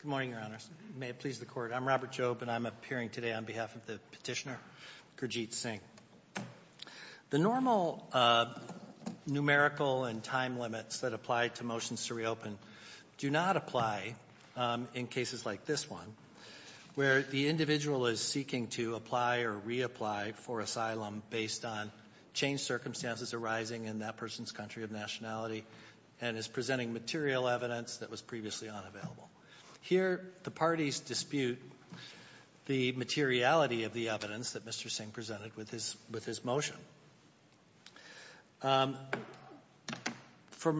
Good morning, Your Honors. May it please the Court. I'm Robert Jobe, and I'm appearing today on behalf of the petitioner, Gurjeet Singh. The normal numerical and time limits that apply to motions to reopen do not apply in cases like this one, where the individual is seeking to apply or reapply for asylum based on changed circumstances arising in that person's country of nationality and is presenting material evidence that was previously unavailable. Here, the parties dispute the materiality of the evidence that Mr. Singh presented with his motion. From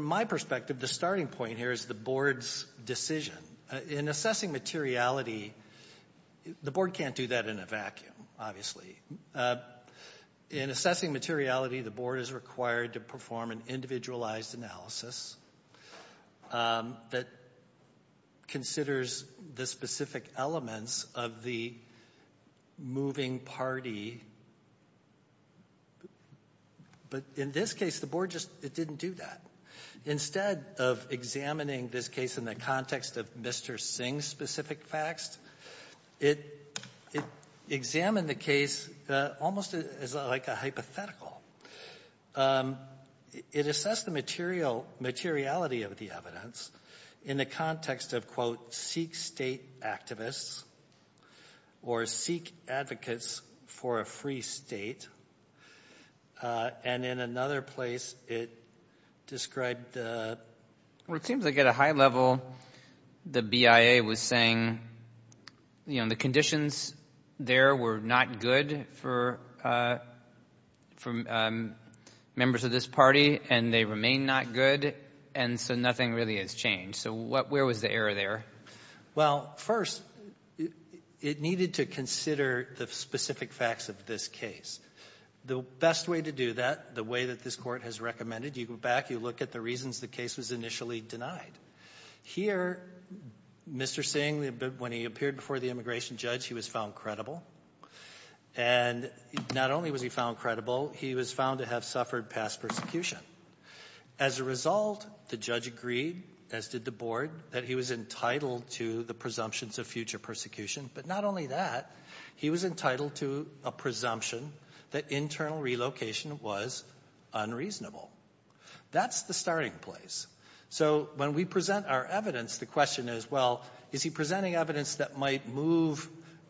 my perspective, the starting point here is the Board's decision. In assessing materiality, the Board can't do that in a vacuum, obviously. In assessing materiality, the Board is required to perform an individualized analysis that considers the specific elements of the moving party. But in this case, the Board just didn't do that. Instead of examining this case in the context of Mr. Singh's specific facts, it examined the case almost as, like, a hypothetical. It assessed the materiality of the evidence in the context of, quote, or seek advocates for a free state. And in another place, it described the... Well, it seems like at a high level, the BIA was saying, you know, the conditions there were not good for members of this party, and they remain not good, and so nothing really has changed. So where was the error there? Well, first, it needed to consider the specific facts of this case. The best way to do that, the way that this Court has recommended, you go back, you look at the reasons the case was initially denied. Here, Mr. Singh, when he appeared before the immigration judge, he was found credible. And not only was he found credible, he was found to have suffered past persecution. As a result, the judge agreed, as did the Board, that he was entitled to the presumptions of future persecution. But not only that, he was entitled to a presumption that internal relocation was unreasonable. That's the starting place. So when we present our evidence, the question is, well, is he presenting evidence that might move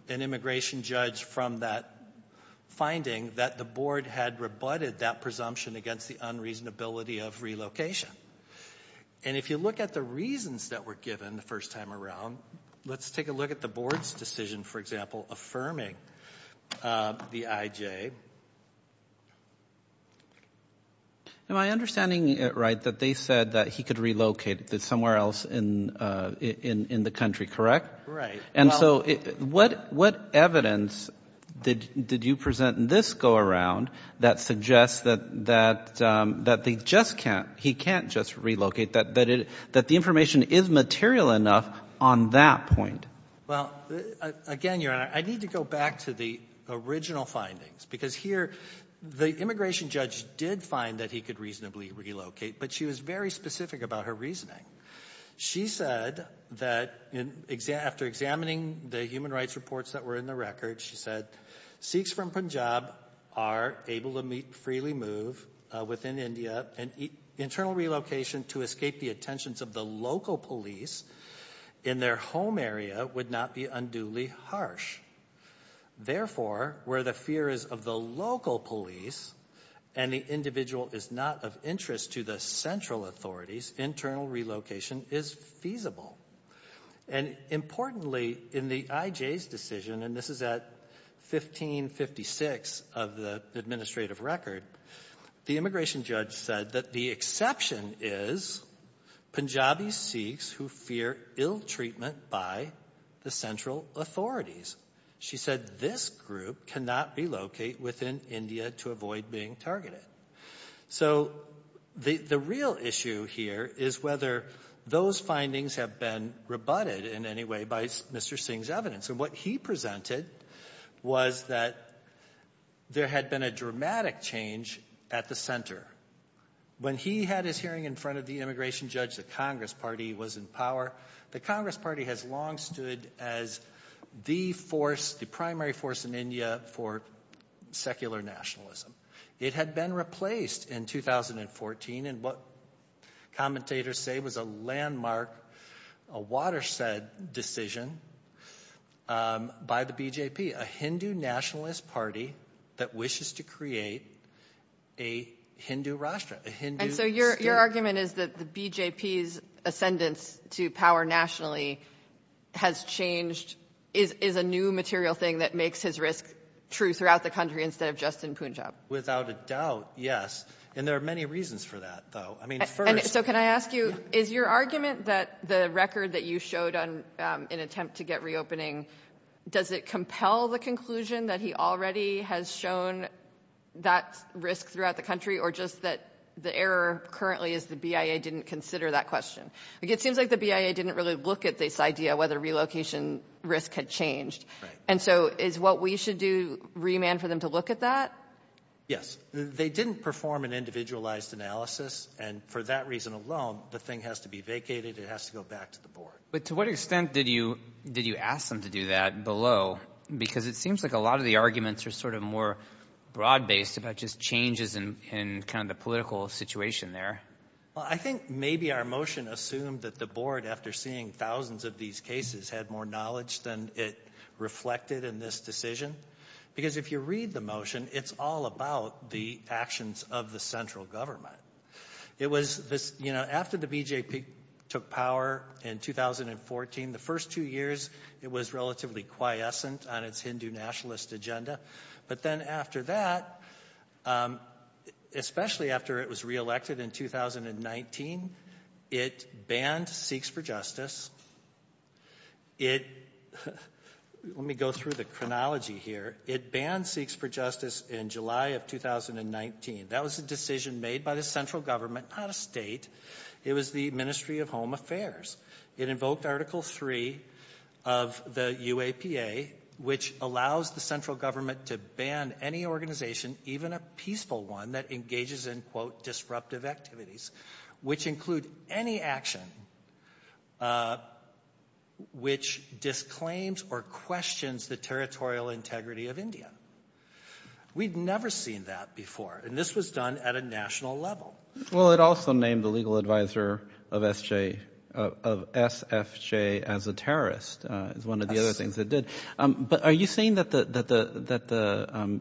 an immigration judge from that finding that the Board had rebutted that presumption against the unreasonability of relocation? And if you look at the reasons that were given the first time around, let's take a look at the Board's decision, for example, affirming the IJ. Am I understanding it right that they said that he could relocate somewhere else in the country, correct? Right. And so what evidence did you present in this go-around that suggests that he can't just relocate, that the information is material enough on that point? Well, again, Your Honor, I need to go back to the original findings because here the immigration judge did find that he could reasonably relocate, but she was very specific about her reasoning. She said that after examining the human rights reports that were in the record, she said, Sikhs from Punjab are able to freely move within India, and internal relocation to escape the attentions of the local police in their home area would not be unduly harsh. Therefore, where the fear is of the local police and the individual is not of interest to the central authorities, internal relocation is feasible. And importantly, in the IJ's decision, and this is at 1556 of the administrative record, the immigration judge said that the exception is Punjabi Sikhs who fear ill treatment by the central authorities. She said this group cannot relocate within India to avoid being targeted. So the real issue here is whether those findings have been rebutted in any way by Mr. Singh's evidence. And what he presented was that there had been a dramatic change at the center. When he had his hearing in front of the immigration judge, the Congress Party was in power. The Congress Party has long stood as the force, the primary force in India for secular nationalism. It had been replaced in 2014 in what commentators say was a landmark, a watershed decision by the BJP, a Hindu nationalist party that wishes to create a Hindu Rashtra. And so your argument is that the BJP's ascendance to power nationally has changed is a new material thing that makes his risk true throughout the country instead of just in Punjab. Without a doubt, yes. And there are many reasons for that, though. I mean, first — And so can I ask you, is your argument that the record that you showed in an attempt to get reopening, does it compel the conclusion that he already has shown that risk throughout the country or just that the error currently is the BIA didn't consider that question? It seems like the BIA didn't really look at this idea whether relocation risk had changed. And so is what we should do remand for them to look at that? Yes. They didn't perform an individualized analysis. And for that reason alone, the thing has to be vacated. It has to go back to the board. But to what extent did you ask them to do that below? Because it seems like a lot of the arguments are sort of more broad-based about just changes in kind of the political situation there. Well, I think maybe our motion assumed that the board, after seeing thousands of these cases, had more knowledge than it reflected in this decision. Because if you read the motion, it's all about the actions of the central government. It was this, you know, after the BJP took power in 2014, the first two years, it was relatively quiescent on its Hindu nationalist agenda. But then after that, especially after it was reelected in 2019, it banned Seeks for Justice. It, let me go through the chronology here, it banned Seeks for Justice in July of 2019. That was a decision made by the central government, not a state. It was the Ministry of Home Affairs. It invoked Article 3 of the UAPA, which allows the central government to ban any organization, even a peaceful one, that engages in, quote, disruptive activities, which include any action which disclaims or questions the territorial integrity of India. We'd never seen that before, and this was done at a national level. Well, it also named the legal advisor of SFJ as a terrorist, is one of the other things it did. But are you saying that the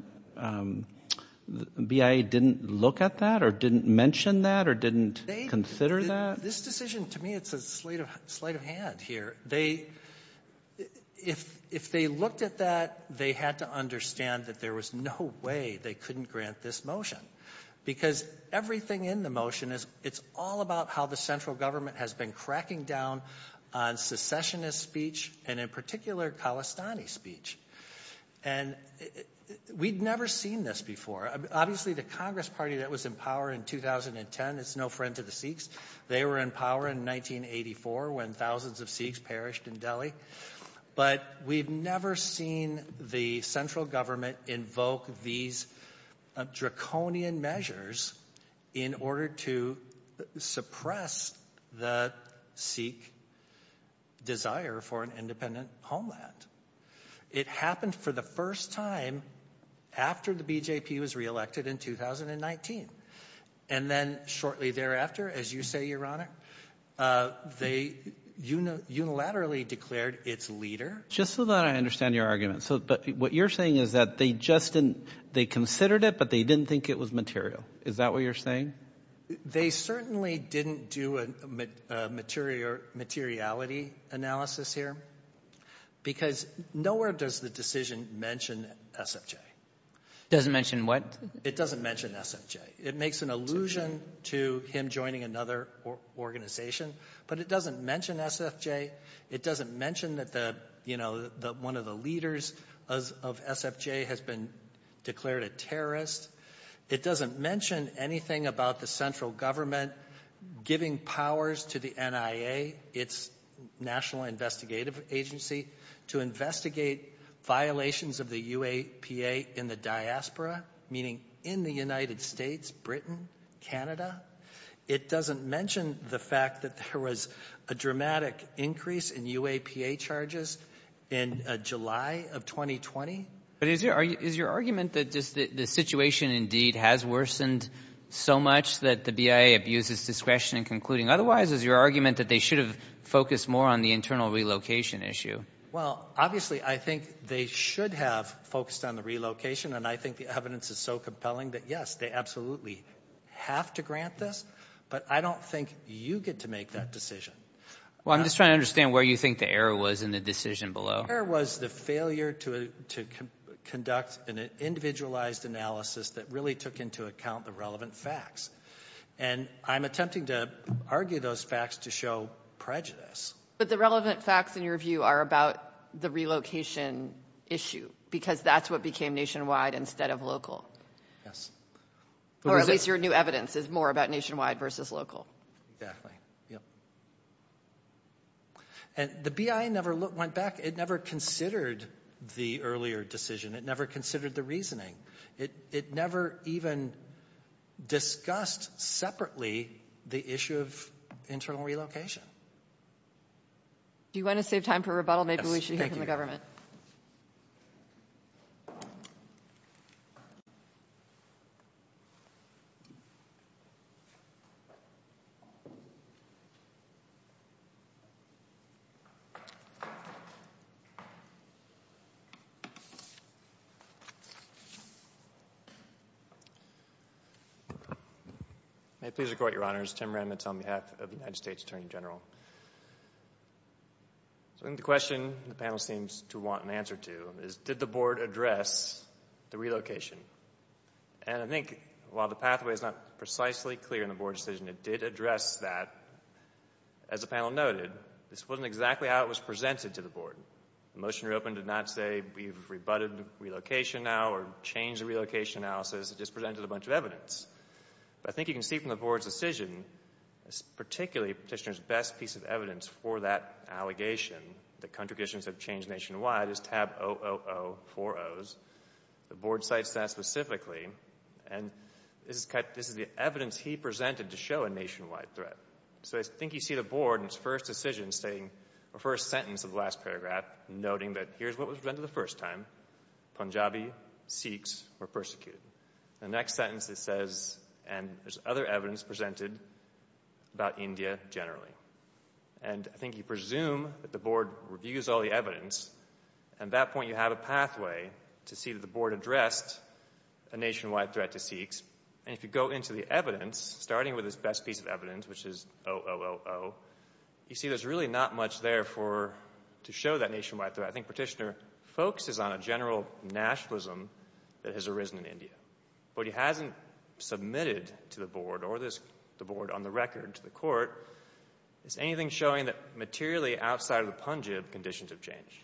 BIA didn't look at that or didn't mention that or didn't consider that? This decision, to me, it's a sleight of hand here. They, if they looked at that, they had to understand that there was no way they couldn't grant this motion. Because everything in the motion is, it's all about how the central government has been cracking down on secessionist speech, and in particular, Khalistani speech. And we'd never seen this before. Obviously, the Congress party that was in power in 2010 is no friend to the Seeks. They were in power in 1984 when thousands of Seeks perished in Delhi. But we've never seen the central government invoke these draconian measures in order to suppress the Seek desire for an independent homeland. It happened for the first time after the BJP was reelected in 2019. And then shortly thereafter, as you say, Your Honor, they unilaterally declared its leader. Just so that I understand your argument. So what you're saying is that they just didn't, they considered it, but they didn't think it was material. Is that what you're saying? They certainly didn't do a materiality analysis here. Because nowhere does the decision mention SFJ. It doesn't mention what? It doesn't mention SFJ. It makes an allusion to him joining another organization. But it doesn't mention SFJ. It doesn't mention that one of the leaders of SFJ has been declared a terrorist. It doesn't mention anything about the central government giving powers to the NIA, its national investigative agency, to investigate violations of the UAPA in the diaspora, meaning in the United States, Britain, Canada. It doesn't mention the fact that there was a dramatic increase in UAPA charges in July of 2020. But is your argument that the situation indeed has worsened so much that the BIA abuses discretion in concluding otherwise? Or is your argument that they should have focused more on the internal relocation issue? Well, obviously I think they should have focused on the relocation, and I think the evidence is so compelling that, yes, they absolutely have to grant this. But I don't think you get to make that decision. Well, I'm just trying to understand where you think the error was in the decision below. The error was the failure to conduct an individualized analysis that really took into account the relevant facts. And I'm attempting to argue those facts to show prejudice. But the relevant facts, in your view, are about the relocation issue because that's what became nationwide instead of local. Yes. Or at least your new evidence is more about nationwide versus local. Exactly. Yep. And the BIA never went back. It never considered the earlier decision. It never considered the reasoning. It never even discussed separately the issue of internal relocation. Do you want to save time for rebuttal? Yes, thank you. Maybe we should hear from the government. May it please the Court, Your Honors. Tim Remitz on behalf of the United States Attorney General. I think the question the panel seems to want an answer to is did the Board address the relocation? And I think while the pathway is not precisely clear in the Board decision, it did address that. As the panel noted, this wasn't exactly how it was presented to the Board. The motion you opened did not say we've rebutted relocation now or changed the relocation analysis. It just presented a bunch of evidence. But I think you can see from the Board's decision, particularly Petitioner's best piece of evidence for that allegation, that contradictions have changed nationwide, is tab 00040. The Board cites that specifically, and this is the evidence he presented to show a nationwide threat. So I think you see the Board in its first decision stating, or first sentence of the last paragraph, noting that here's what was presented the first time, Punjabi Sikhs were persecuted. The next sentence it says, and there's other evidence presented about India generally. And I think you presume that the Board reviews all the evidence, and at that point you have a pathway to see that the Board addressed a nationwide threat to Sikhs. And if you go into the evidence, starting with his best piece of evidence, which is 000, you see there's really not much there to show that nationwide threat. I think Petitioner focuses on a general nationalism that has arisen in India. What he hasn't submitted to the Board or the Board on the record to the Court is anything showing that materially outside of the Punjab conditions have changed.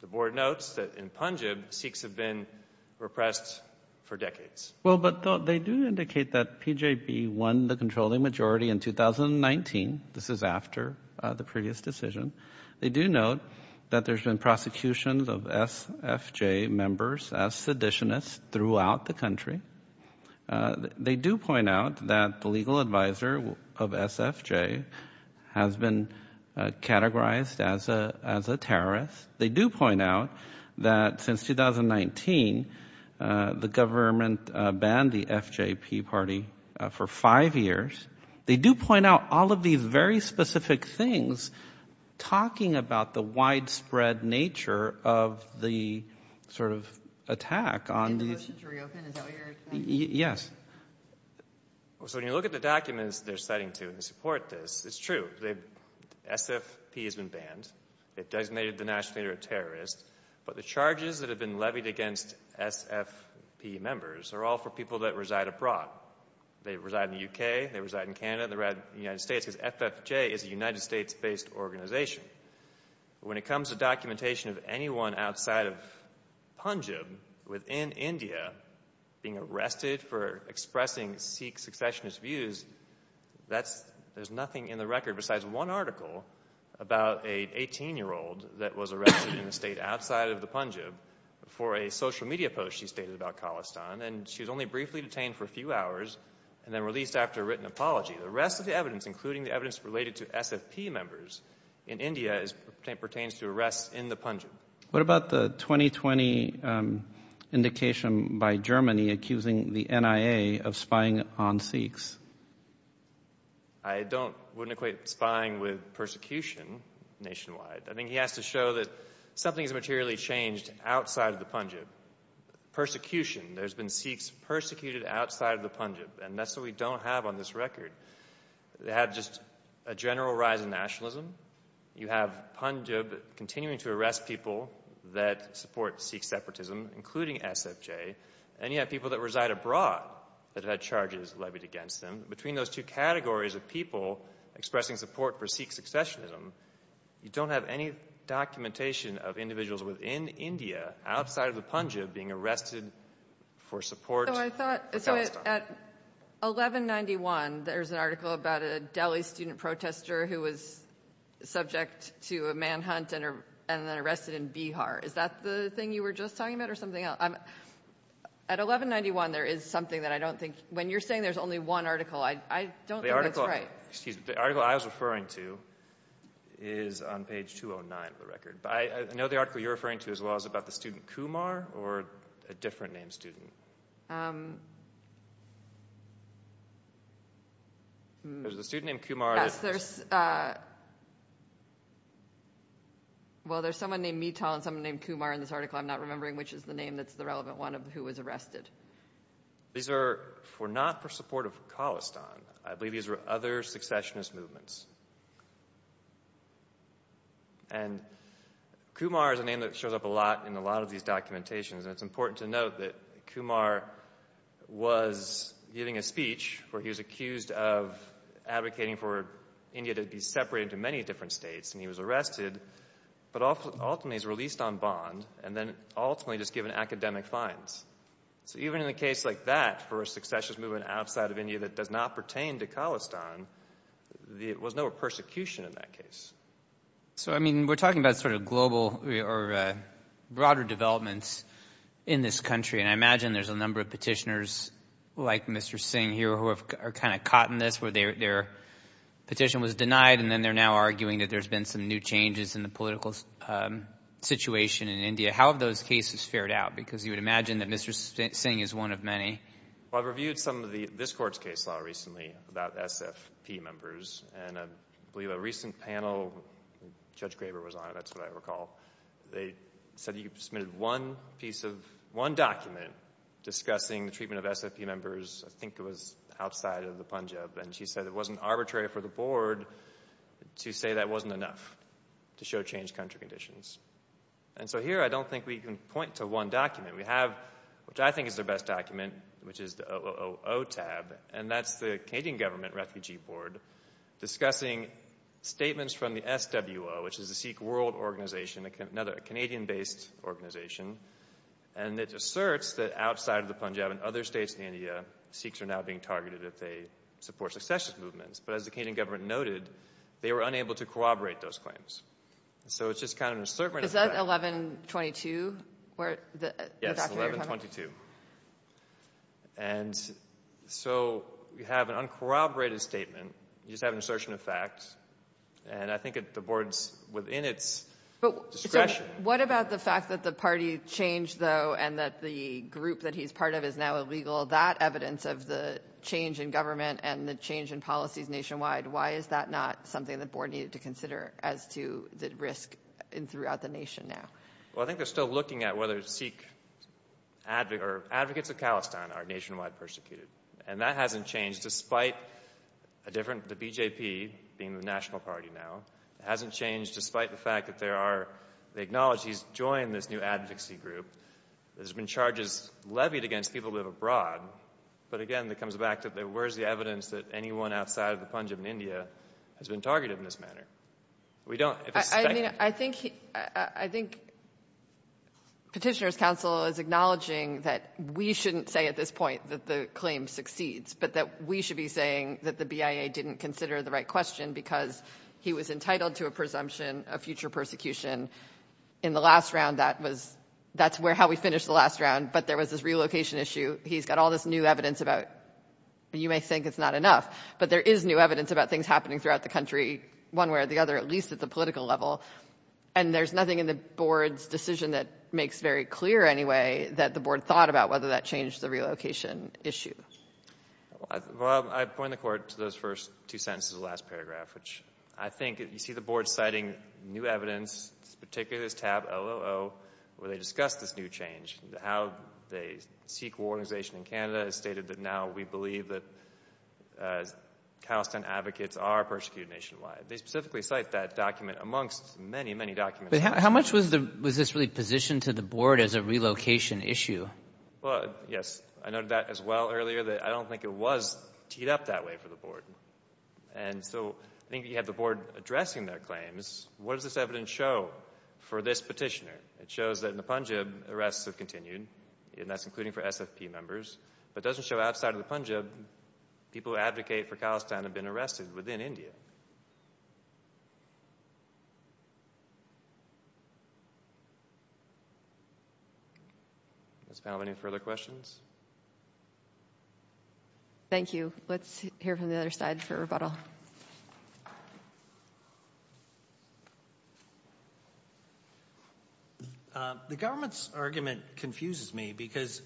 The Board notes that in Punjab Sikhs have been repressed for decades. Well, but they do indicate that PJB won the controlling majority in 2019. This is after the previous decision. They do note that there's been prosecutions of SFJ members as seditionists throughout the country. They do point out that the legal advisor of SFJ has been categorized as a terrorist. They do point out that since 2019, the government banned the FJP party for five years. They do point out all of these very specific things, talking about the widespread nature of the sort of attack on the — Did the motions reopen? Is that what you're — Yes. So when you look at the documents they're citing to support this, it's true. SFP has been banned. It designated the national leader a terrorist. But the charges that have been levied against SFP members are all for people that reside abroad. They reside in the UK. They reside in Canada. They reside in the United States because FFJ is a United States-based organization. When it comes to documentation of anyone outside of Punjab within India being arrested for expressing Sikh successionist views, there's nothing in the record besides one article about an 18-year-old that was arrested in a state outside of the Punjab for a social media post she stated about Khalistan. And she was only briefly detained for a few hours and then released after a written apology. The rest of the evidence, including the evidence related to SFP members in India, pertains to arrests in the Punjab. What about the 2020 indication by Germany accusing the NIA of spying on Sikhs? I don't — wouldn't equate spying with persecution nationwide. I think he has to show that something has materially changed outside of the Punjab. Persecution — there's been Sikhs persecuted outside of the Punjab. And that's what we don't have on this record. They have just a general rise in nationalism. You have Punjab continuing to arrest people that support Sikh separatism, including SFJ. And you have people that reside abroad that have had charges levied against them. Between those two categories of people expressing support for Sikh successionism, you don't have any documentation of individuals within India outside of the Punjab being arrested for support for Khalistan. So I thought — so at 1191, there's an article about a Delhi student protester who was subject to a manhunt and then arrested in Bihar. Is that the thing you were just talking about or something else? At 1191, there is something that I don't think — when you're saying there's only one article, I don't think that's right. The article — excuse me — the article I was referring to is on page 209 of the record. I know the article you're referring to as well is about the student Kumar or a different named student. There's a student named Kumar. Yes, there's — well, there's someone named Mital and someone named Kumar in this article. I'm not remembering which is the name that's the relevant one of who was arrested. These were not for support of Khalistan. I believe these were other successionist movements. And Kumar is a name that shows up a lot in a lot of these documentations. And it's important to note that Kumar was giving a speech where he was accused of advocating for India to be separated into many different states. And he was arrested but ultimately was released on bond and then ultimately just given academic fines. So even in a case like that for a successionist movement outside of India that does not pertain to Khalistan, there was no persecution in that case. So, I mean, we're talking about sort of global or broader developments in this country. And I imagine there's a number of petitioners like Mr. Singh here who are kind of caught in this where their petition was denied. And then they're now arguing that there's been some new changes in the political situation in India. How have those cases fared out? Because you would imagine that Mr. Singh is one of many. Well, I've reviewed some of this court's case law recently about SFP members. And I believe a recent panel, Judge Graber was on it, that's what I recall. They said you submitted one piece of one document discussing the treatment of SFP members. I think it was outside of the Punjab. And she said it wasn't arbitrary for the board to say that wasn't enough to show changed country conditions. And so here I don't think we can point to one document. We have, which I think is the best document, which is the OOO tab. And that's the Canadian government refugee board discussing statements from the SWO, which is the Sikh World Organization, another Canadian-based organization. And it asserts that outside of the Punjab and other states in India, Sikhs are now being targeted if they support successionist movements. But as the Canadian government noted, they were unable to corroborate those claims. So it's just kind of an assertion of fact. Is that 1122? Yes, 1122. And so you have an uncorroborated statement. You just have an assertion of fact. And I think the board's within its discretion. What about the fact that the party changed, though, and that the group that he's part of is now illegal, that evidence of the change in government and the change in policies nationwide, why is that not something the board needed to consider as to the risk throughout the nation now? Well, I think they're still looking at whether Sikh advocates of Palestine are nationwide persecuted. And that hasn't changed despite the BJP being the national party now. It hasn't changed despite the fact that they acknowledge he's joined this new advocacy group. There's been charges levied against people who live abroad. But, again, it comes back to where's the evidence that anyone outside of the Punjab in India has been targeted in this manner? We don't. I think Petitioner's Council is acknowledging that we shouldn't say at this point that the claim succeeds, but that we should be saying that the BIA didn't consider the right question because he was entitled to a presumption of future persecution. In the last round, that's how we finished the last round, but there was this relocation issue. He's got all this new evidence about it. You may think it's not enough, but there is new evidence about things happening throughout the country, one way or the other, at least at the political level. And there's nothing in the board's decision that makes very clear anyway that the board thought about whether that changed the relocation issue. Well, I point the court to those first two sentences of the last paragraph, which I think you see the board citing new evidence, particularly this tab, LOO, where they discuss this new change, how the SQL organization in Canada has stated that now we believe that CalSTAN advocates are persecuted nationwide. They specifically cite that document amongst many, many documents. But how much was this really positioned to the board as a relocation issue? Well, yes, I noted that as well earlier that I don't think it was teed up that way for the board. And so I think you have the board addressing their claims. What does this evidence show for this petitioner? It shows that in the Punjab arrests have continued, and that's including for SFP members, but it doesn't show outside of the Punjab people who advocate for CalSTAN have been arrested within India. Does the panel have any further questions? Thank you. Let's hear from the other side for rebuttal. The government's argument confuses me because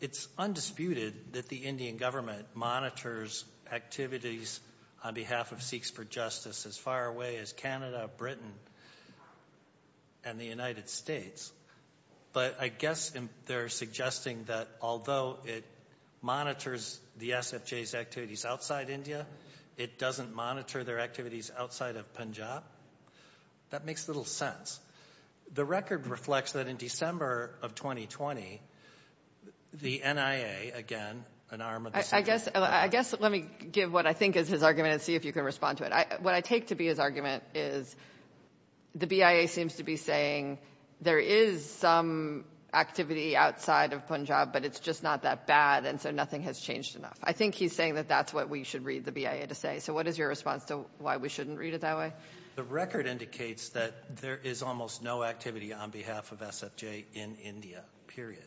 it's undisputed that the Indian government monitors activities on behalf of Sikhs for justice as far away as Canada, Britain, and the United States. But I guess they're suggesting that although it monitors the SFJ's activities outside India, it doesn't monitor their activities outside of Punjab. That makes little sense. The record reflects that in December of 2020, the NIA, again, an arm of the SFJ. I guess let me give what I think is his argument and see if you can respond to it. What I take to be his argument is the BIA seems to be saying there is some activity outside of Punjab, but it's just not that bad, and so nothing has changed enough. I think he's saying that that's what we should read the BIA to say. So what is your response to why we shouldn't read it that way? The record indicates that there is almost no activity on behalf of SFJ in India, period.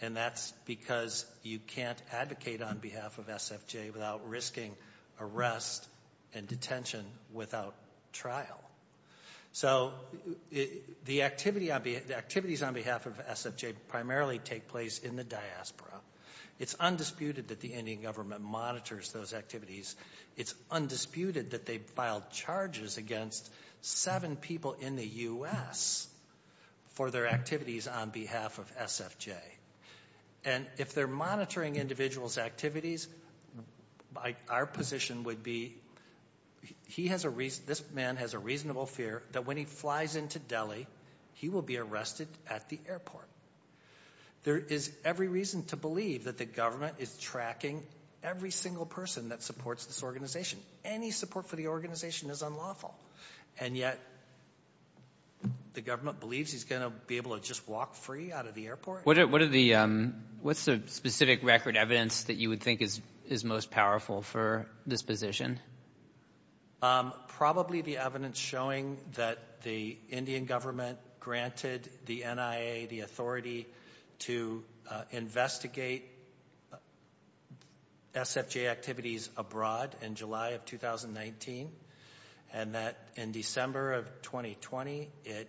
And that's because you can't advocate on behalf of SFJ without risking arrest and detention without trial. So the activities on behalf of SFJ primarily take place in the diaspora. It's undisputed that the Indian government monitors those activities. It's undisputed that they filed charges against seven people in the U.S. for their activities on behalf of SFJ. And if they're monitoring individuals' activities, our position would be this man has a reasonable fear that when he flies into Delhi, he will be arrested at the airport. There is every reason to believe that the government is tracking every single person that supports this organization. Any support for the organization is unlawful. And yet the government believes he's going to be able to just walk free out of the airport? What's the specific record evidence that you would think is most powerful for this position? Probably the evidence showing that the Indian government granted the NIA the authority to investigate SFJ activities abroad in July of 2019. And that in December of 2020, it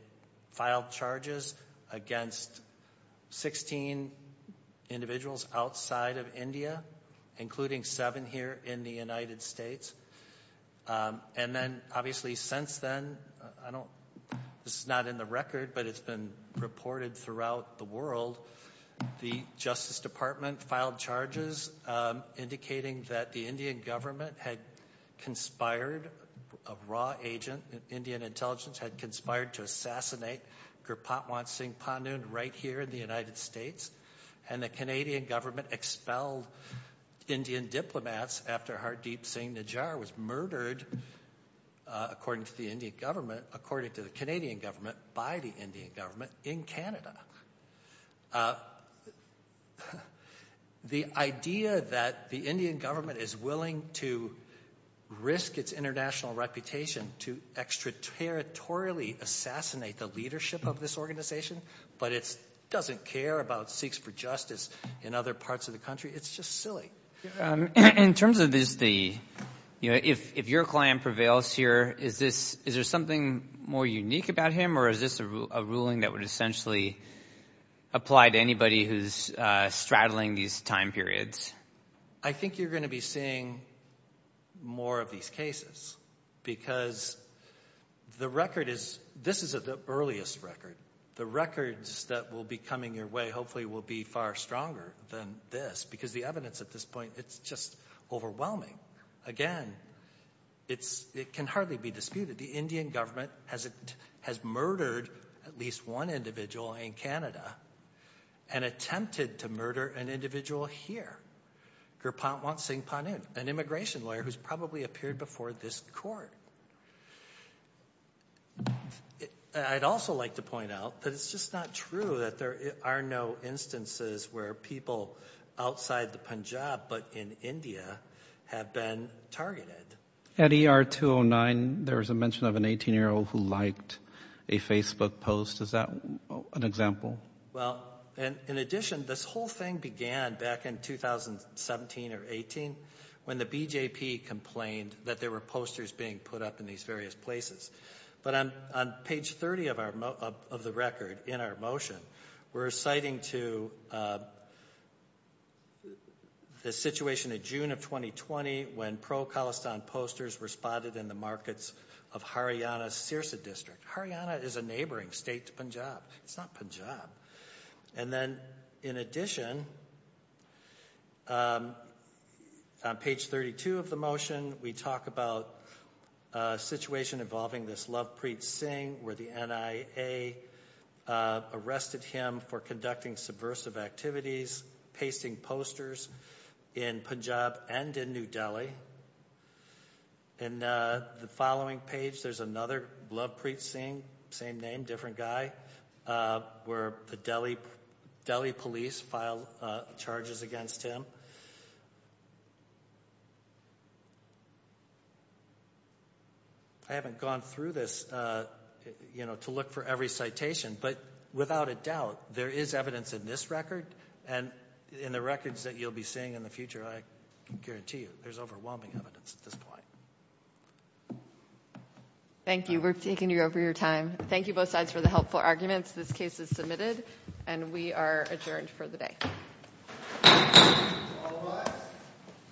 filed charges against 16 individuals outside of India, including seven here in the United States. And then obviously since then, I don't, this is not in the record, but it's been reported throughout the world, the Justice Department filed charges indicating that the Indian government had conspired, a raw agent, Indian intelligence had conspired to assassinate Gurpatwan Singh Pandan right here in the United States. And the Canadian government expelled Indian diplomats after Hardeep Singh Najjar was murdered, according to the Indian government, according to the Canadian government, by the Indian government in Canada. The idea that the Indian government is willing to risk its international reputation to extraterritorially assassinate the leadership of this organization, but it doesn't care about Sikhs for justice in other parts of the country, it's just silly. In terms of this, if your client prevails here, is there something more unique about him, or is this a ruling that would essentially apply to anybody who's straddling these time periods? I think you're going to be seeing more of these cases because the record is, this is the earliest record. The records that will be coming your way hopefully will be far stronger than this, because the evidence at this point, it's just overwhelming. Again, it can hardly be disputed. The Indian government has murdered at least one individual in Canada, and attempted to murder an individual here, Gurpatwan Singh Pandan, an immigration lawyer who's probably appeared before this court. I'd also like to point out that it's just not true that there are no instances where people outside the Punjab but in India have been targeted. At ER 209, there was a mention of an 18-year-old who liked a Facebook post. Is that an example? Well, in addition, this whole thing began back in 2017 or 18 when the BJP complained that there were posters being put up in these various places. But on page 30 of the record in our motion, we're citing to the situation in June of 2020 when pro-Khalistan posters were spotted in the markets of Haryana's Sirsa district. Haryana is a neighboring state to Punjab. It's not Punjab. And then, in addition, on page 32 of the motion, we talk about a situation involving this Lovepreet Singh where the NIA arrested him for conducting subversive activities, pasting posters in Punjab and in New Delhi. In the following page, there's another Lovepreet Singh, same name, different guy, where the Delhi police filed charges against him. I haven't gone through this to look for every citation, but without a doubt, there is evidence in this record and in the records that you'll be seeing in the future, I guarantee you, there's overwhelming evidence at this point. Thank you. We're taking over your time. Thank you both sides for the helpful arguments. This case is submitted, and we are adjourned for the day.